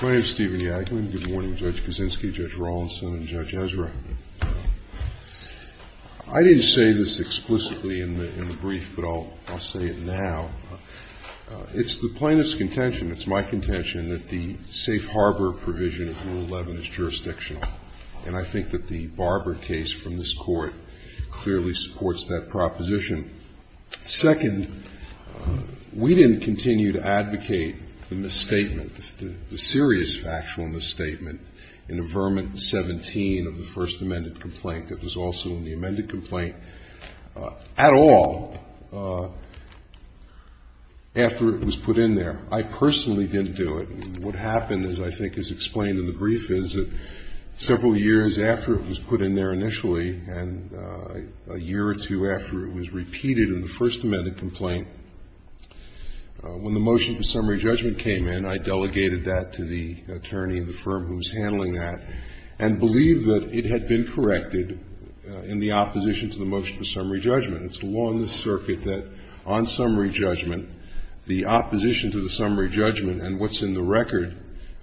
I didn't say this explicitly in the brief, but I'll say it now. It's the plaintiff's contention, it's my contention, that the safe harbor provision of Rule 11 is jurisdictional. And I think that the Barber case from this Court clearly supports that proposition. Second, we didn't continue to advocate the misstatement, the serious factual misstatement, in Avermant 17 of the First Amended Complaint, that was also in the amended complaint, at all, after it was put in there. I personally didn't do it. What happened, as I think is explained in the brief, is that several years after it was put in there initially, and a year or two after it was repeated in the First Amended Complaint, when the motion for summary judgment came in, I delegated that to the attorney of the firm who was handling that, and believed that it had been corrected in the opposition to the motion for summary judgment. It's the law in this circuit that on summary judgment, the opposition to the summary judgment and what's in the record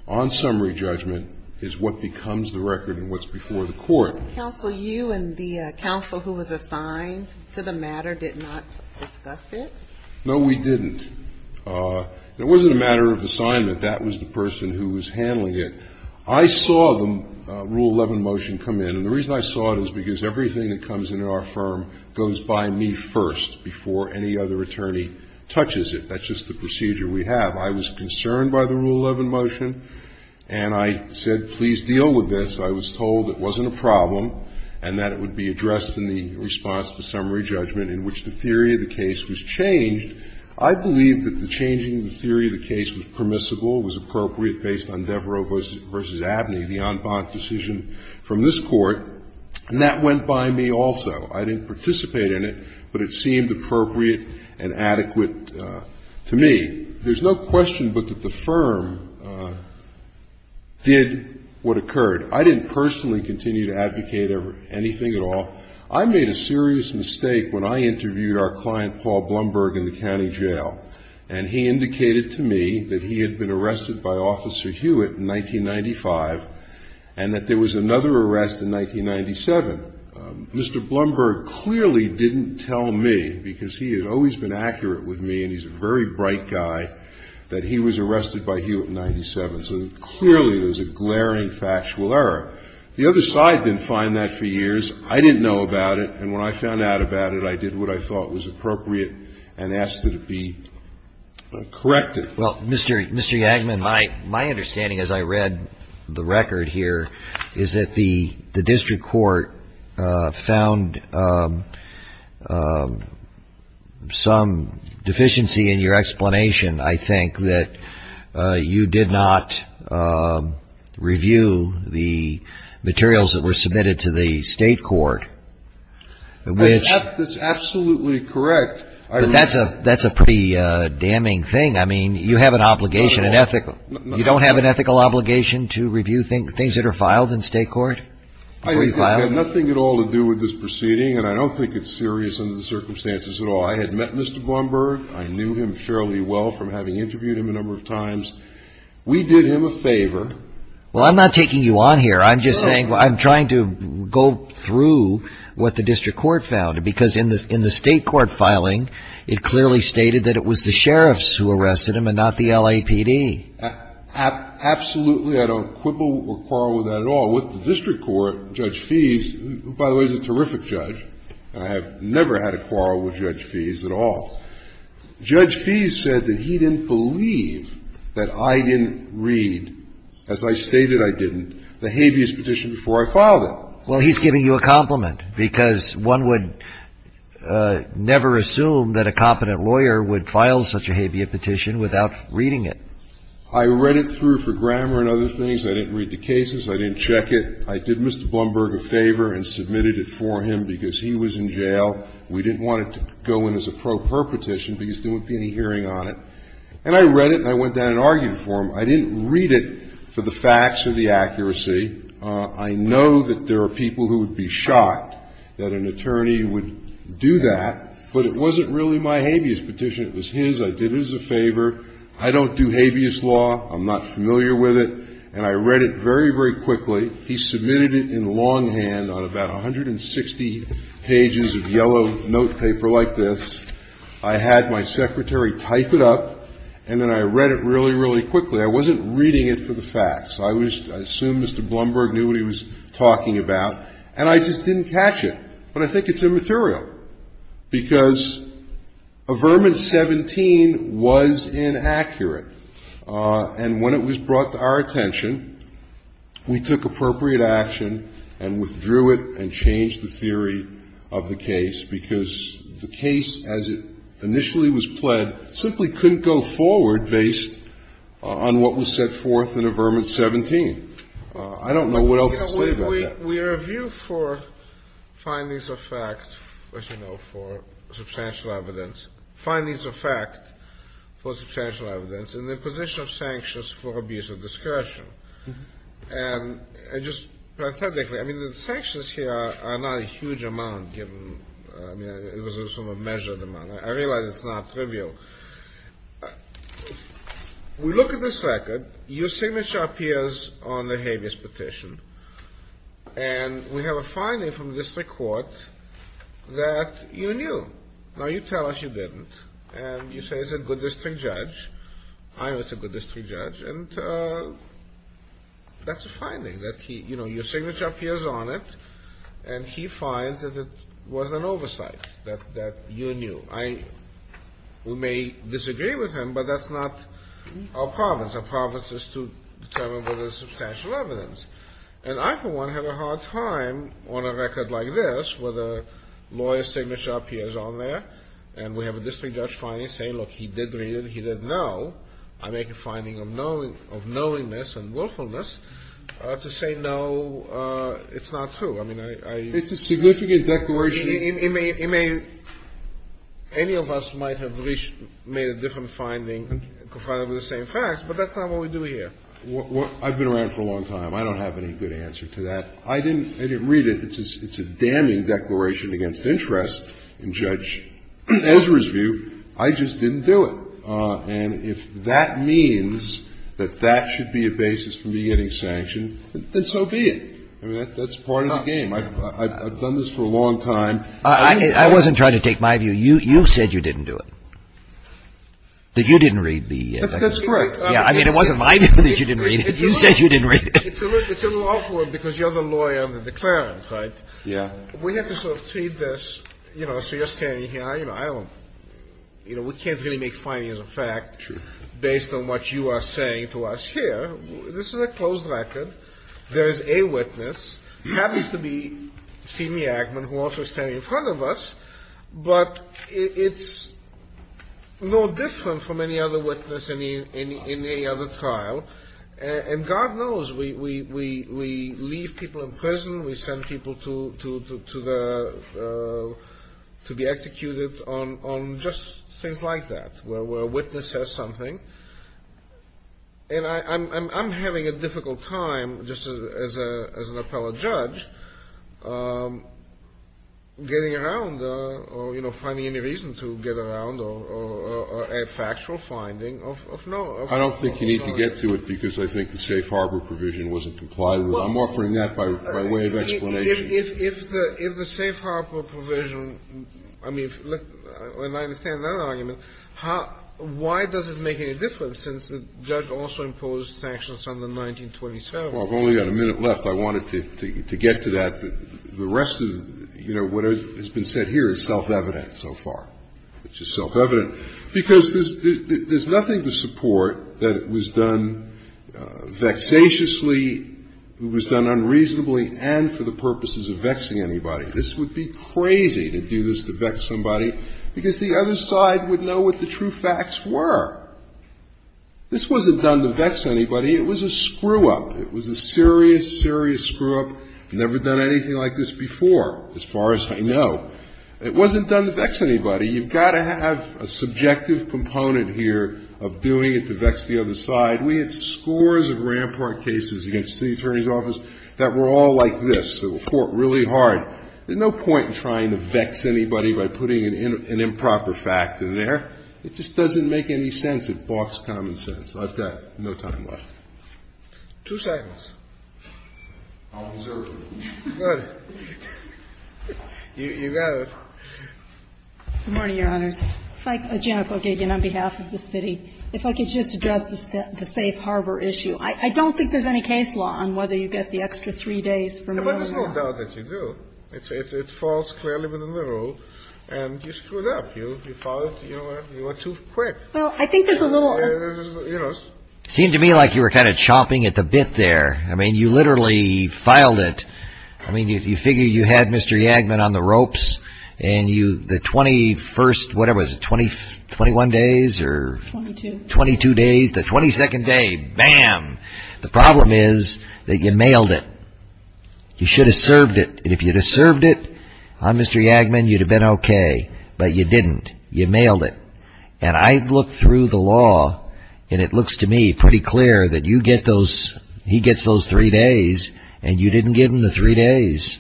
on summary judgment is what becomes the record and what's before the Court. Counsel, you and the counsel who was assigned to the matter did not discuss it? No, we didn't. It wasn't a matter of assignment. That was the person who was handling it. I saw the Rule 11 motion come in, and the reason I saw it is because everything that comes into our firm goes by me first before any other attorney touches it. That's just the procedure we have. I was concerned by the Rule 11 motion, and I said, please deal with this. I was told it wasn't a problem and that it would be addressed in the response to summary judgment, in which the theory of the case was changed. I believe that the changing of the theory of the case was permissible, was appropriate based on Devereaux v. Abney, the en banc decision from this Court. And that went by me also. I didn't participate in it, but it seemed appropriate and adequate to me. There's no question but that the firm did what occurred. I didn't personally continue to advocate anything at all. I made a serious mistake when I interviewed our client, Paul Blumberg, in the county jail, and he indicated to me that he had been arrested by Officer Hewitt in 1995 and that there was another arrest in 1997. Mr. Blumberg clearly didn't tell me, because he had always been accurate with me and he's a very bright guy, that he was arrested by Hewitt in 1997. So clearly it was a glaring factual error. The other side didn't find that for years. I didn't know about it, and when I found out about it, I did what I thought was appropriate and asked that it be corrected. Well, Mr. Yagman, my understanding as I read the record here is that the district court found some deficiency in your explanation, I think, that you did not review the materials that were submitted to the state court. That's absolutely correct. That's a pretty damning thing. I mean, you have an obligation, you don't have an ethical obligation to review things that are filed in state court? It had nothing at all to do with this proceeding, and I don't think it's serious under the circumstances at all. I had met Mr. Blumberg. I knew him fairly well from having interviewed him a number of times. We did him a favor. Well, I'm not taking you on here. I'm just saying, I'm trying to go through what the district court found, because in the state court filing, it clearly stated that it was the sheriffs who arrested him and not the LAPD. Absolutely, I don't quibble or quarrel with that at all. With the district court, Judge Feese, who, by the way, is a terrific judge, and I have never had a quarrel with Judge Feese at all. Judge Feese said that he didn't believe that I didn't read, as I stated I didn't, the habeas petition before I filed it. Well, he's giving you a compliment, because one would never assume that a competent lawyer would file such a habeas petition without reading it. I read it through for grammar and other things. I didn't read the cases. I didn't check it. I did Mr. Blumberg a favor and submitted it for him because he was in jail. We didn't want it to go in as a pro perpetition because there wouldn't be any hearing on it. And I read it and I went down and argued for him. I didn't read it for the facts or the accuracy. I know that there are people who would be shocked that an attorney would do that, but it wasn't really my habeas petition. It was his. I did it as a favor. I don't do habeas law. I'm not familiar with it. And I read it very, very quickly. He submitted it in longhand on about 160 pages of yellow notepaper like this. I had my secretary type it up, and then I read it really, really quickly. I wasn't reading it for the facts. I assumed Mr. Blumberg knew what he was talking about. And I just didn't catch it. But I think it's immaterial because Averman 17 was inaccurate. And when it was brought to our attention, we took appropriate action and withdrew it and changed the theory of the case because the case, as it initially was pled, simply couldn't go forward based on what was set forth in Averman 17. I don't know what else to say about that. We review for findings of fact, as you know, for substantial evidence. Findings of fact for substantial evidence in the position of sanctions for abuse of discretion. And just parenthetically, I mean, the sanctions here are not a huge amount given it was a sort of measured amount. I realize it's not trivial. We look at this record. Your signature appears on the habeas petition. And we have a finding from the district court that you knew. Now, you tell us you didn't. And you say it's a good district judge. I know it's a good district judge. And that's a finding that he, you know, your signature appears on it. And he finds that it was an oversight, that you knew. We may disagree with him, but that's not our province. Our province is to determine whether there's substantial evidence. And I, for one, have a hard time on a record like this with a lawyer's signature appears on there, and we have a district judge finally saying, look, he did read it, he didn't know. I make a finding of knowingness and willfulness to say, no, it's not true. I mean, I don't know. It's a significant declaration. Any of us might have reached, made a different finding, confided with the same facts, but that's not what we do here. I've been around for a long time. I don't have any good answer to that. I didn't read it. It's a damning declaration against interest in Judge Ezra's view. I just didn't do it. And if that means that that should be a basis for me getting sanctioned, then so be it. I mean, that's part of the game. I've done this for a long time. I wasn't trying to take my view. You said you didn't do it, that you didn't read the declaration. That's correct. Yeah, I mean, it wasn't my view that you didn't read it. You said you didn't read it. It's a little awkward because you're the lawyer on the declarant, right? Yeah. We have to sort of see this, you know, so you're standing here. I don't, you know, we can't really make findings of fact based on what you are saying to us here. This is a closed record. There is a witness. Happens to be Stephen Yackman, who also is standing in front of us. But it's no different from any other witness in any other trial. And God knows we leave people in prison. We send people to be executed on just things like that, where a witness says something. And I'm having a difficult time, just as an appellate judge, getting around or, you know, finding any reason to get around a factual finding. I don't think you need to get to it because I think the safe harbor provision wasn't complied with. I'm offering that by way of explanation. If the safe harbor provision, I mean, I understand that argument. Why does it make any difference since the judge also imposed sanctions on the 1927? Well, I've only got a minute left. I wanted to get to that. The rest of, you know, what has been said here is self-evident so far, which is self-evident, because there's nothing to support that it was done vexatiously, it was done unreasonably and for the purposes of vexing anybody. This would be crazy to do this to vex somebody, because the other side would know what the true facts were. This wasn't done to vex anybody. It was a screw-up. It was a serious, serious screw-up. I've never done anything like this before, as far as I know. It wasn't done to vex anybody. You've got to have a subjective component here of doing it to vex the other side. We had scores of rampant cases against the city attorney's office that were all like this, that were fought really hard. There's no point in trying to vex anybody by putting an improper fact in there. It just doesn't make any sense. It blocks common sense. I've got no time left. Two seconds. You got it. You got it. Good morning, Your Honors. If I could just address the safe harbor issue. I don't think there's any case law on whether you get the extra three days from the other side. There's no doubt that you do. It falls clearly within the rule. And you screwed up. You filed it. You were too quick. Well, I think there's a little. You know. It seemed to me like you were kind of chomping at the bit there. I mean, you literally filed it. I mean, you figure you had Mr. Yagman on the ropes. And the 21st, what was it, 21 days? 22. 22 days. The 22nd day. Bam. The problem is that you mailed it. You should have served it. And if you'd have served it on Mr. Yagman, you'd have been okay. But you didn't. You mailed it. And I've looked through the law. And it looks to me pretty clear that you get those. He gets those three days. And you didn't give him the three days.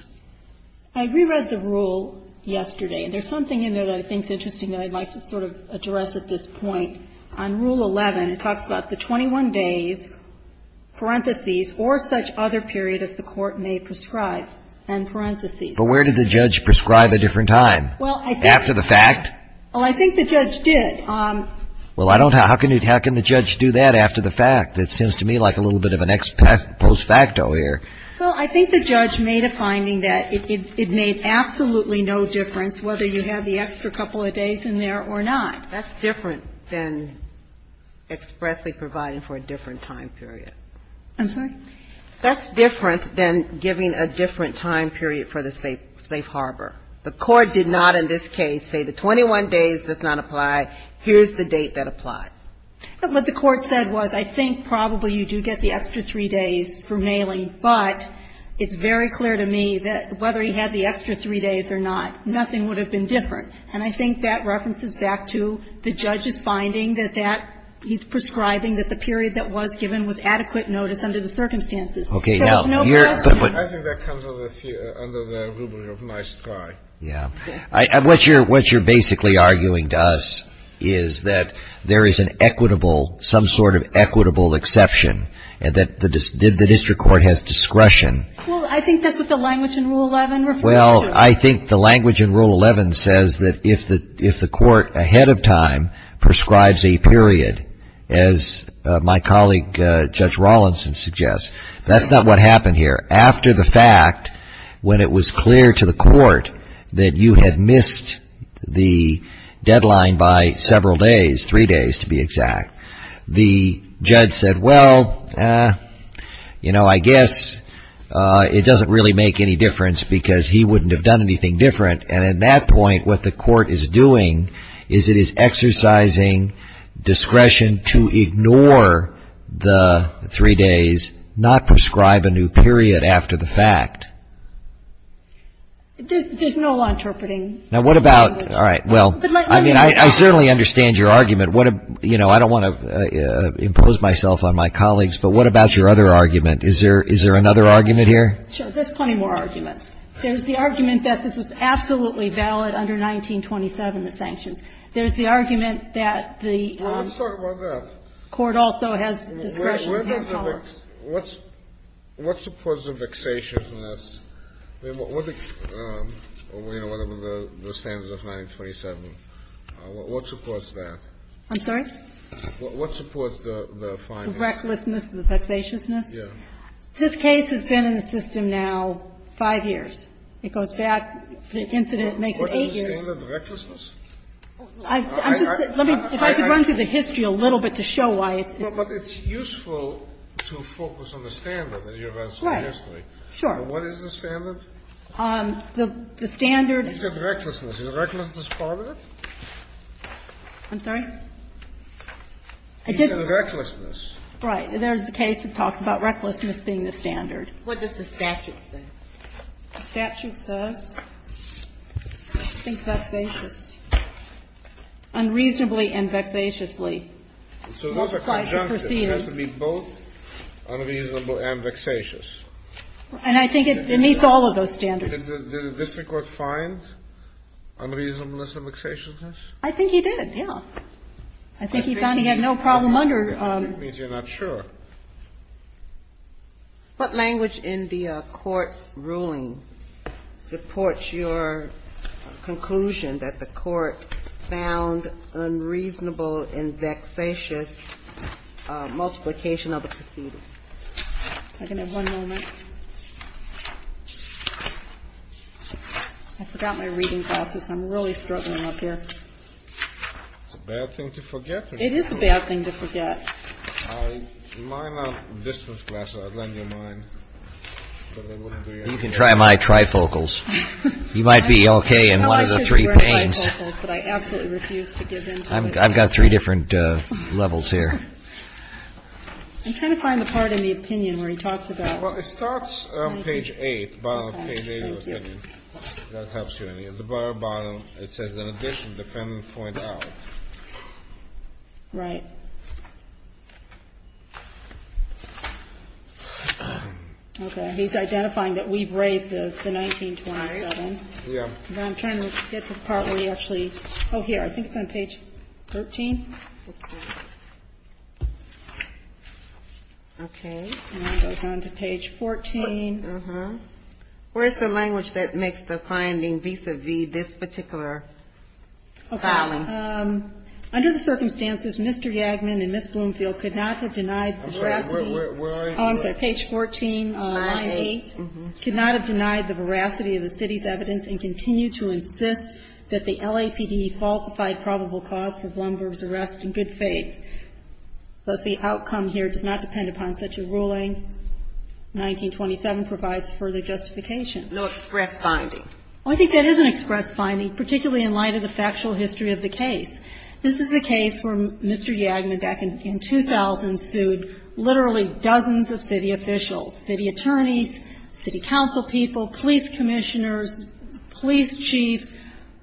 I reread the rule yesterday. And there's something in there that I think is interesting that I'd like to sort of address at this point. On Rule 11, it talks about the 21 days, parentheses, or such other period as the court may prescribe. End parentheses. But where did the judge prescribe a different time? Well, I think. After the fact? Oh, I think the judge did. Well, I don't know. How can the judge do that after the fact? It seems to me like a little bit of an ex post facto here. Well, I think the judge made a finding that it made absolutely no difference whether you had the extra couple of days in there or not. That's different than expressly providing for a different time period. I'm sorry? That's different than giving a different time period for the safe harbor. The Court did not in this case say the 21 days does not apply. Here's the date that applies. What the Court said was I think probably you do get the extra three days for mailing. But it's very clear to me that whether he had the extra three days or not, nothing would have been different. And I think that references back to the judge's finding that that he's prescribing that the period that was given was adequate notice under the circumstances. Okay. Now. I think that comes under the rubric of nice try. Yeah. What you're basically arguing to us is that there is an equitable, some sort of equitable exception and that the district court has discretion. Well, I think that's what the language in Rule 11 refers to. Well, I think the language in Rule 11 says that if the Court ahead of time prescribes a period, as my colleague Judge Rawlinson suggests, that's not what happened here. After the fact, when it was clear to the Court that you had missed the deadline by several days, three days to be exact, the judge said, well, you know, I guess it doesn't really make any difference because he wouldn't have done anything different. And at that point, what the Court is doing is it is exercising discretion to ignore the three days, not prescribe a new period after the fact. There's no law interpreting language. All right. Well, I mean, I certainly understand your argument. You know, I don't want to impose myself on my colleagues, but what about your other argument? Is there another argument here? Sure. There's plenty more arguments. There's the argument that this was absolutely valid under 1927, the sanctions. There's the argument that the court also has discretion. What supports the vexatiousness? I mean, what do you know about the standards of 1927? What supports that? I'm sorry? What supports the findings? The recklessness, the vexatiousness? Yes. This case has been in the system now five years. It goes back. The incident makes it eight years. What is the standard of recklessness? I'm just saying, let me, if I could run through the history a little bit to show why it's But it's useful to focus on the standard that you were asking yesterday. Right. Sure. What is the standard? The standard. You said recklessness. Is recklessness part of it? I'm sorry? I didn't. You said recklessness. Right. There's the case that talks about recklessness being the standard. What does the statute say? The statute says, I think, vexatious. Unreasonably and vexatiously. So those are conjunctions. It has to be both unreasonable and vexatious. And I think it meets all of those standards. Did the district court find unreasonableness and vexatiousness? I think he did, yeah. I think he found he had no problem under. It means you're not sure. What language in the court's ruling supports your conclusion that the court found unreasonable and vexatious multiplication of the proceedings? I can have one moment. I forgot my reading glasses. I'm really struggling up here. It's a bad thing to forget. It is a bad thing to forget. Mine are distance glasses. I'd lend you mine. You can try my trifocals. You might be okay in one of the three planes. But I absolutely refuse to give in. I've got three different levels here. I'm trying to find the part in the opinion where he talks about. Well, it starts on page eight. The bottom of page eight of the opinion. That helps you. At the very bottom, it says, in addition, defendant points out. Right. Okay. He's identifying that we've raised the 1927. Yeah. I'm trying to get to the part where he actually. Oh, here. I think it's on page 13. Okay. It goes on to page 14. Where's the language that makes the finding vis-a-vis this particular filing? Okay. Under the circumstances, Mr. Yagman and Ms. Bloomfield could not have denied the veracity. Where is it? Oh, I'm sorry. Page 14, line eight. Could not have denied the veracity of the city's evidence and continue to insist that the LAPD falsified probable cause for Blumberg's arrest in good faith. Thus, the outcome here does not depend upon such a ruling. 1927 provides further justification. No express finding. Well, I think that is an express finding, particularly in light of the factual history of the case. This is a case where Mr. Yagman, back in 2000, sued literally dozens of city officials, city attorneys, city council people, police commissioners, police chiefs.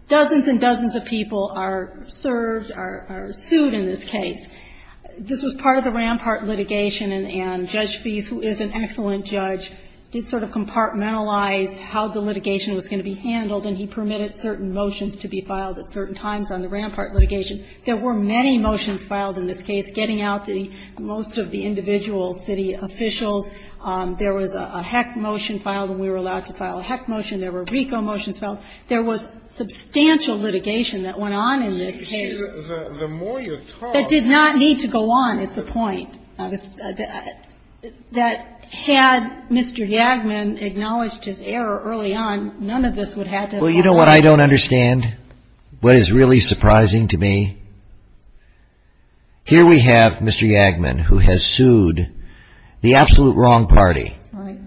Dozens and dozens of people are served, are sued in this case. This was part of the Rampart litigation, and Judge Feese, who is an excellent judge, did sort of compartmentalize how the litigation was going to be handled, and he permitted certain motions to be filed at certain times on the Rampart litigation. There were many motions filed in this case, getting out most of the individual city officials. There was a Heck motion filed, and we were allowed to file a Heck motion. There were RICO motions filed. There was substantial litigation that went on in this case that did not need to go on, is the point. That had Mr. Yagman acknowledged his error early on, none of this would have happened. Well, you know what I don't understand, what is really surprising to me? Here we have Mr. Yagman, who has sued the absolute wrong party. Right.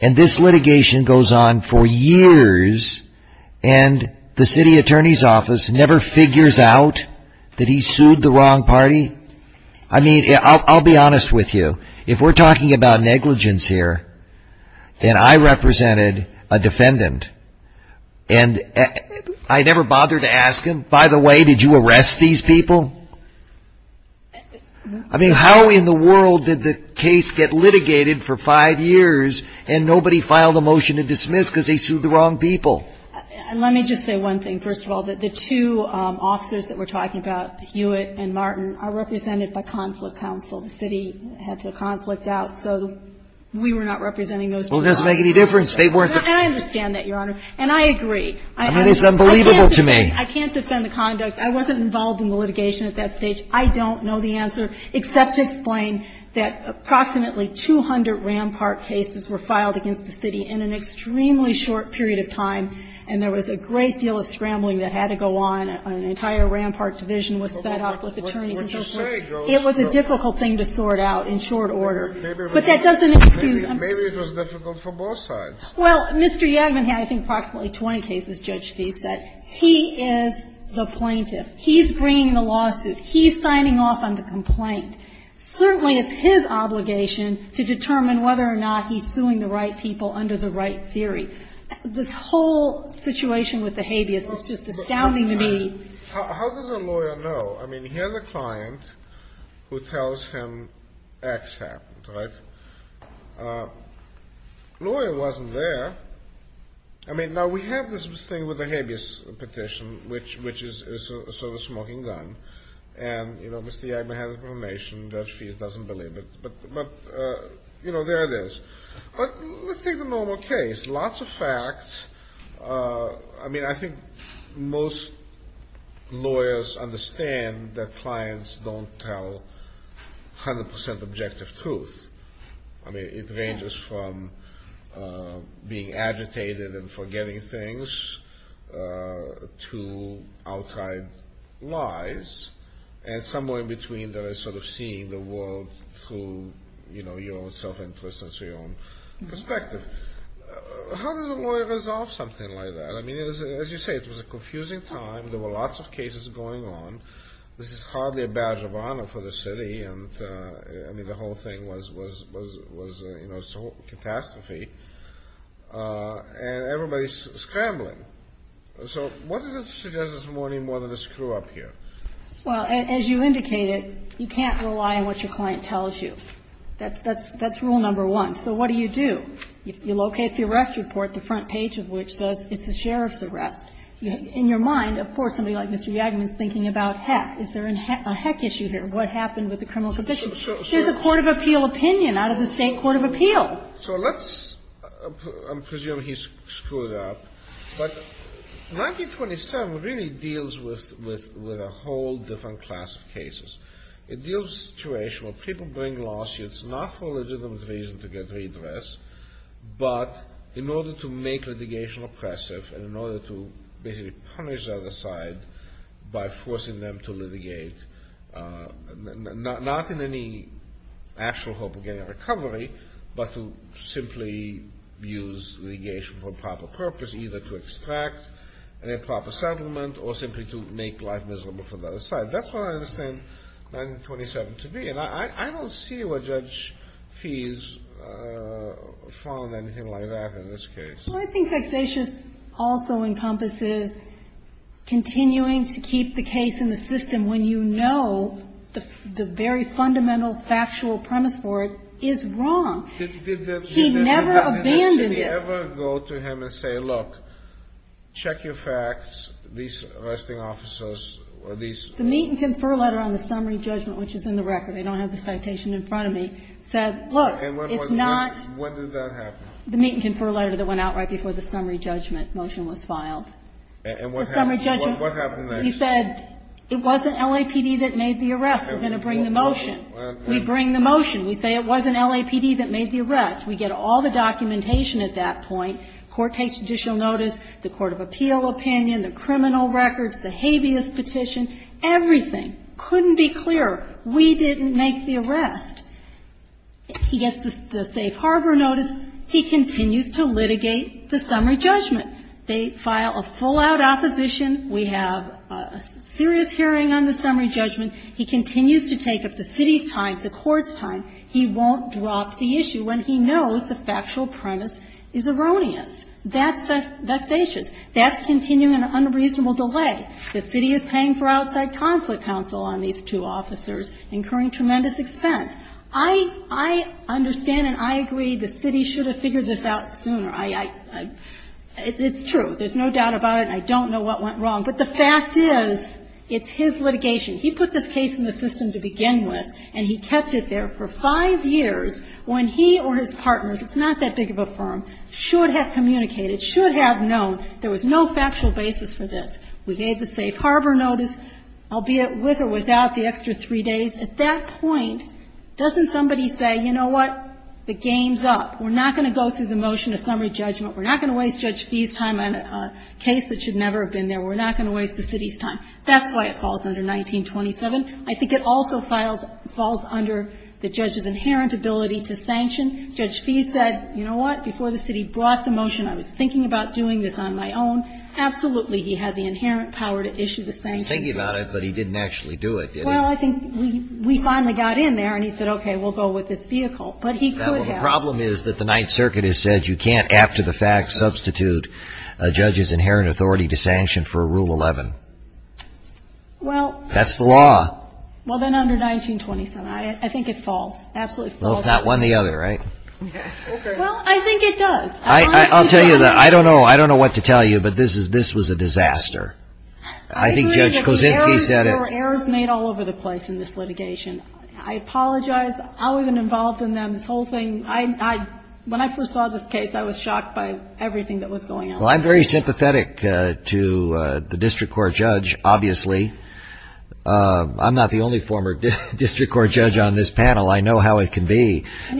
And this litigation goes on for years, and the city attorney's office never figures out that he sued the wrong party? I mean, I'll be honest with you. If we're talking about negligence here, and I represented a defendant, and I never bothered to ask him, by the way, did you arrest these people? I mean, how in the world did the case get litigated for five years, and nobody filed a motion to dismiss because they sued the wrong people? Let me just say one thing, first of all. The two officers that we're talking about, Hewitt and Martin, are represented by conflict counsel. The city had to conflict out, so we were not representing those two officers. Well, it doesn't make any difference. And I understand that, Your Honor, and I agree. I mean, it's unbelievable to me. I can't defend the conduct. I wasn't involved in the litigation at that stage. I don't know the answer, except to explain that approximately 200 Rampart cases were filed against the city in an extremely short period of time, and there was a great deal of scrambling that had to go on. An entire Rampart division was set up with attorneys and so forth. It was a difficult thing to sort out in short order. But that doesn't excuse him. Maybe it was difficult for both sides. Well, Mr. Yadvin had, I think, approximately 20 cases, Judge Fee said. He is the plaintiff. He's bringing the lawsuit. He's signing off on the complaint. Certainly it's his obligation to determine whether or not he's suing the right people under the right theory. This whole situation with the habeas is just astounding to me. How does a lawyer know? I mean, here's a client who tells him X happened, right? Lawyer wasn't there. I mean, now we have this thing with the habeas petition, which is sort of a smoking gun. And, you know, Mr. Yadvin has a proclamation. Judge Fee doesn't believe it. But, you know, there it is. But let's take the normal case. Lots of facts. I mean, I think most lawyers understand that clients don't tell 100% objective truth. I mean, it ranges from being agitated and forgetting things to outside lies. And somewhere in between there is sort of seeing the world through, you know, your own self-interest and your own perspective. How does a lawyer resolve something like that? I mean, as you say, it was a confusing time. There were lots of cases going on. This is hardly a badge of honor for the city. And, I mean, the whole thing was, you know, a catastrophe. And everybody's scrambling. So what does it suggest this morning more than a screw-up here? Well, as you indicated, you can't rely on what your client tells you. That's rule number one. So what do you do? You locate the arrest report, the front page of which says it's a sheriff's arrest. In your mind, of course, somebody like Mr. Yadvin is thinking about, heck, is there a heck issue here? What happened with the criminal conviction? Here's a court of appeal opinion out of the State Court of Appeal. So let's presume he's screwed up. But 1927 really deals with a whole different class of cases. It deals with a situation where people bring lawsuits, not for legitimate reasons to get redress, but in order to make litigation oppressive and in order to basically punish the other side by forcing them to litigate. Not in any actual hope of getting a recovery, but to simply use litigation for a proper purpose, either to extract a proper settlement or simply to make life miserable for the other side. That's what I understand 1927 to be. And I don't see where Judge Fees found anything like that in this case. Well, I think Hexatious also encompasses continuing to keep the case in the system when you know the very fundamental factual premise for it is wrong. He never abandoned it. Did the judge ever go to him and say, look, check your facts, these arresting officers, or these? The meet and confer letter on the summary judgment, which is in the record. I don't have the citation in front of me, said, look, it's not. And when did that happen? The meet and confer letter that went out right before the summary judgment motion was filed. The summary judgment. What happened next? He said it wasn't LAPD that made the arrest. We're going to bring the motion. We bring the motion. We say it wasn't LAPD that made the arrest. We get all the documentation at that point. Court takes judicial notice, the court of appeal opinion, the criminal records, the habeas petition, everything. Couldn't be clearer. We didn't make the arrest. He gets the safe harbor notice. He continues to litigate the summary judgment. They file a full-out opposition. We have a serious hearing on the summary judgment. He continues to take up the city's time, the court's time. He won't drop the issue when he knows the factual premise is erroneous. That's vexatious. That's continuing an unreasonable delay. The city is paying for outside conflict counsel on these two officers, incurring tremendous expense. I understand and I agree the city should have figured this out sooner. It's true. There's no doubt about it, and I don't know what went wrong. But the fact is, it's his litigation. He put this case in the system to begin with, and he kept it there for five years when he or his partners, it's not that big of a firm, should have communicated, should have known there was no factual basis for this. We gave the safe harbor notice, albeit with or without the extra three days. At that point, doesn't somebody say, you know what? The game's up. We're not going to go through the motion of summary judgment. We're not going to waste Judge Fee's time on a case that should never have been there. We're not going to waste the city's time. That's why it falls under 1927. I think it also falls under the judge's inherent ability to sanction. Judge Fee said, you know what, before the city brought the motion, I was thinking about doing this on my own. Absolutely, he had the inherent power to issue the sanctions. He was thinking about it, but he didn't actually do it, did he? Well, I think we finally got in there, and he said, okay, we'll go with this vehicle. But he could have. The problem is that the Ninth Circuit has said you can't, after the fact, substitute a judge's inherent authority to sanction for Rule 11. That's the law. Well, then under 1927. I think it falls. Absolutely falls. Well, it's not one or the other, right? Well, I think it does. I'll tell you, I don't know what to tell you, but this was a disaster. I think Judge Kosinski said it. There were errors made all over the place in this litigation. I apologize. I wasn't involved in them, this whole thing. When I first saw this case, I was shocked by everything that was going on. Well, I'm very sympathetic to the district court judge, obviously. I'm not the only former district court judge on this panel. I know how it can be. And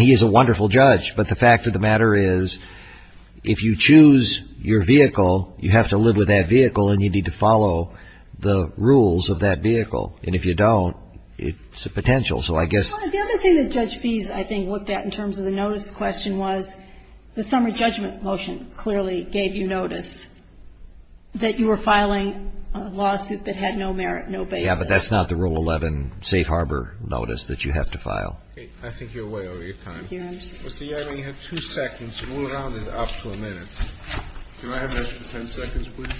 he's a wonderful judge. But the fact of the matter is, if you choose your vehicle, you have to live with that vehicle and you need to follow the rules of that vehicle. And if you don't, it's a potential. So I guess the other thing that Judge Bees, I think, looked at in terms of the notice question was the summer judgment motion clearly gave you notice that you were filing a lawsuit that had no merit, no basis. Yeah, but that's not the Rule 11 safe harbor notice that you have to file. I think you're way over your time. Mr. Yarger, you have two seconds. We'll round it up to a minute. Can I have an extra ten seconds, please?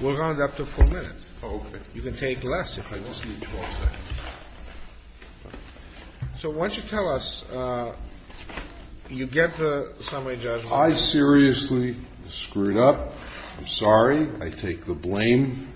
We'll round it up to four minutes. Okay. You can take less if you want. I just need 12 seconds. So why don't you tell us, you get the summary judgment motion. I seriously screwed up. I'm sorry. I take the blame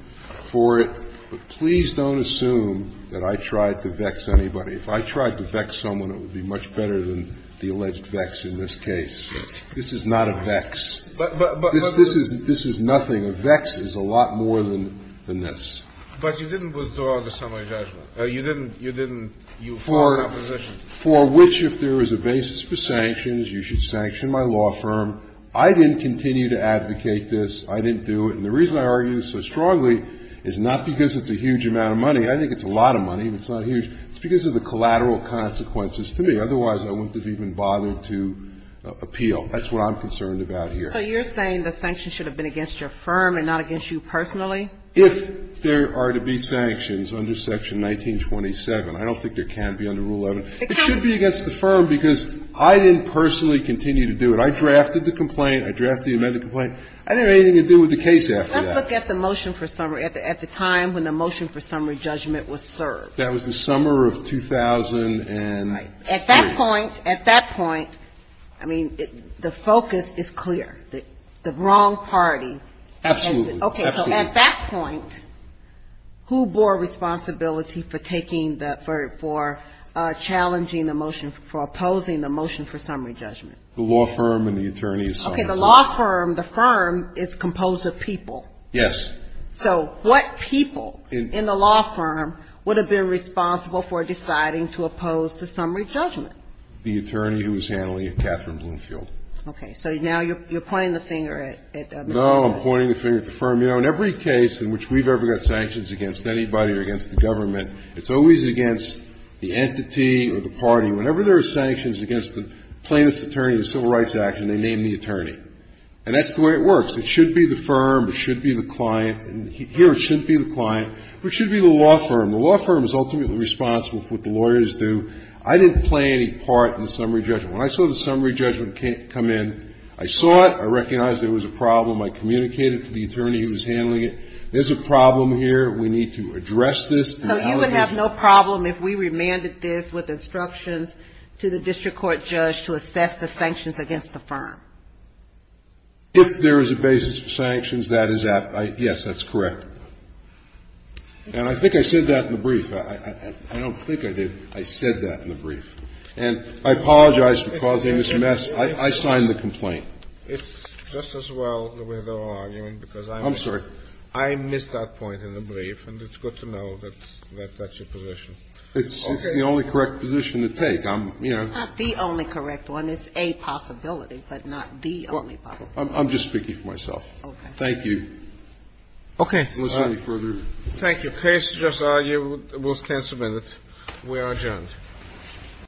for it. But please don't assume that I tried to vex anybody. If I tried to vex someone, it would be much better than the alleged vex in this case. This is not a vex. This is nothing. A vex is a lot more than this. But you didn't withdraw the summary judgment. You didn't. You didn't. For which, if there is a basis for sanctions, you should sanction my law firm. I didn't continue to advocate this. I didn't do it. And the reason I argue this so strongly is not because it's a huge amount of money. I think it's a lot of money. It's not huge. It's because of the collateral consequences to me. Otherwise, I wouldn't have even bothered to appeal. That's what I'm concerned about here. So you're saying the sanctions should have been against your firm and not against you personally? If there are to be sanctions under Section 1927, I don't think there can be under Rule 11. It should be against the firm because I didn't personally continue to do it. I drafted the complaint. I drafted the amended complaint. I didn't have anything to do with the case after that. Let's look at the motion for summary at the time when the motion for summary judgment was served. That was the summer of 2003. Right. At that point, at that point, I mean, the focus is clear. The wrong party. Absolutely. Absolutely. Okay. So at that point, who bore responsibility for taking the, for challenging the motion, for opposing the motion for summary judgment? The law firm and the attorneys. Okay. The law firm, the firm is composed of people. Yes. So what people in the law firm would have been responsible for deciding to oppose the summary judgment? The attorney who was handling it, Catherine Bloomfield. Okay. So now you're pointing the finger at the firm. No, I'm pointing the finger at the firm. You know, in every case in which we've ever got sanctions against anybody or against the government, it's always against the entity or the party. Whenever there are sanctions against the plaintiff's attorney, the civil rights action, they name the attorney. And that's the way it works. It should be the firm. It should be the client. Here it should be the client. But it should be the law firm. The law firm is ultimately responsible for what the lawyers do. I didn't play any part in the summary judgment. When I saw the summary judgment come in, I saw it. I recognized there was a problem. I communicated to the attorney who was handling it. There's a problem here. We need to address this. So you would have no problem if we remanded this with instructions to the district court judge to assess the sanctions against the firm? If there is a basis for sanctions, that is at, yes, that's correct. And I think I said that in the brief. I don't think I did. I said that in the brief. And I apologize for causing this mess. I signed the complaint. It's just as well that we're not arguing because I'm not. I'm sorry. I missed that point in the brief, and it's good to know that that's your position. Okay. It's the only correct position to take. I'm, you know. It's not the only correct one. And it's a possibility, but not the only possibility. I'm just speaking for myself. Okay. Thank you. Okay. If there's any further. Thank you. The case is just argued. We'll stand for a minute. We are adjourned.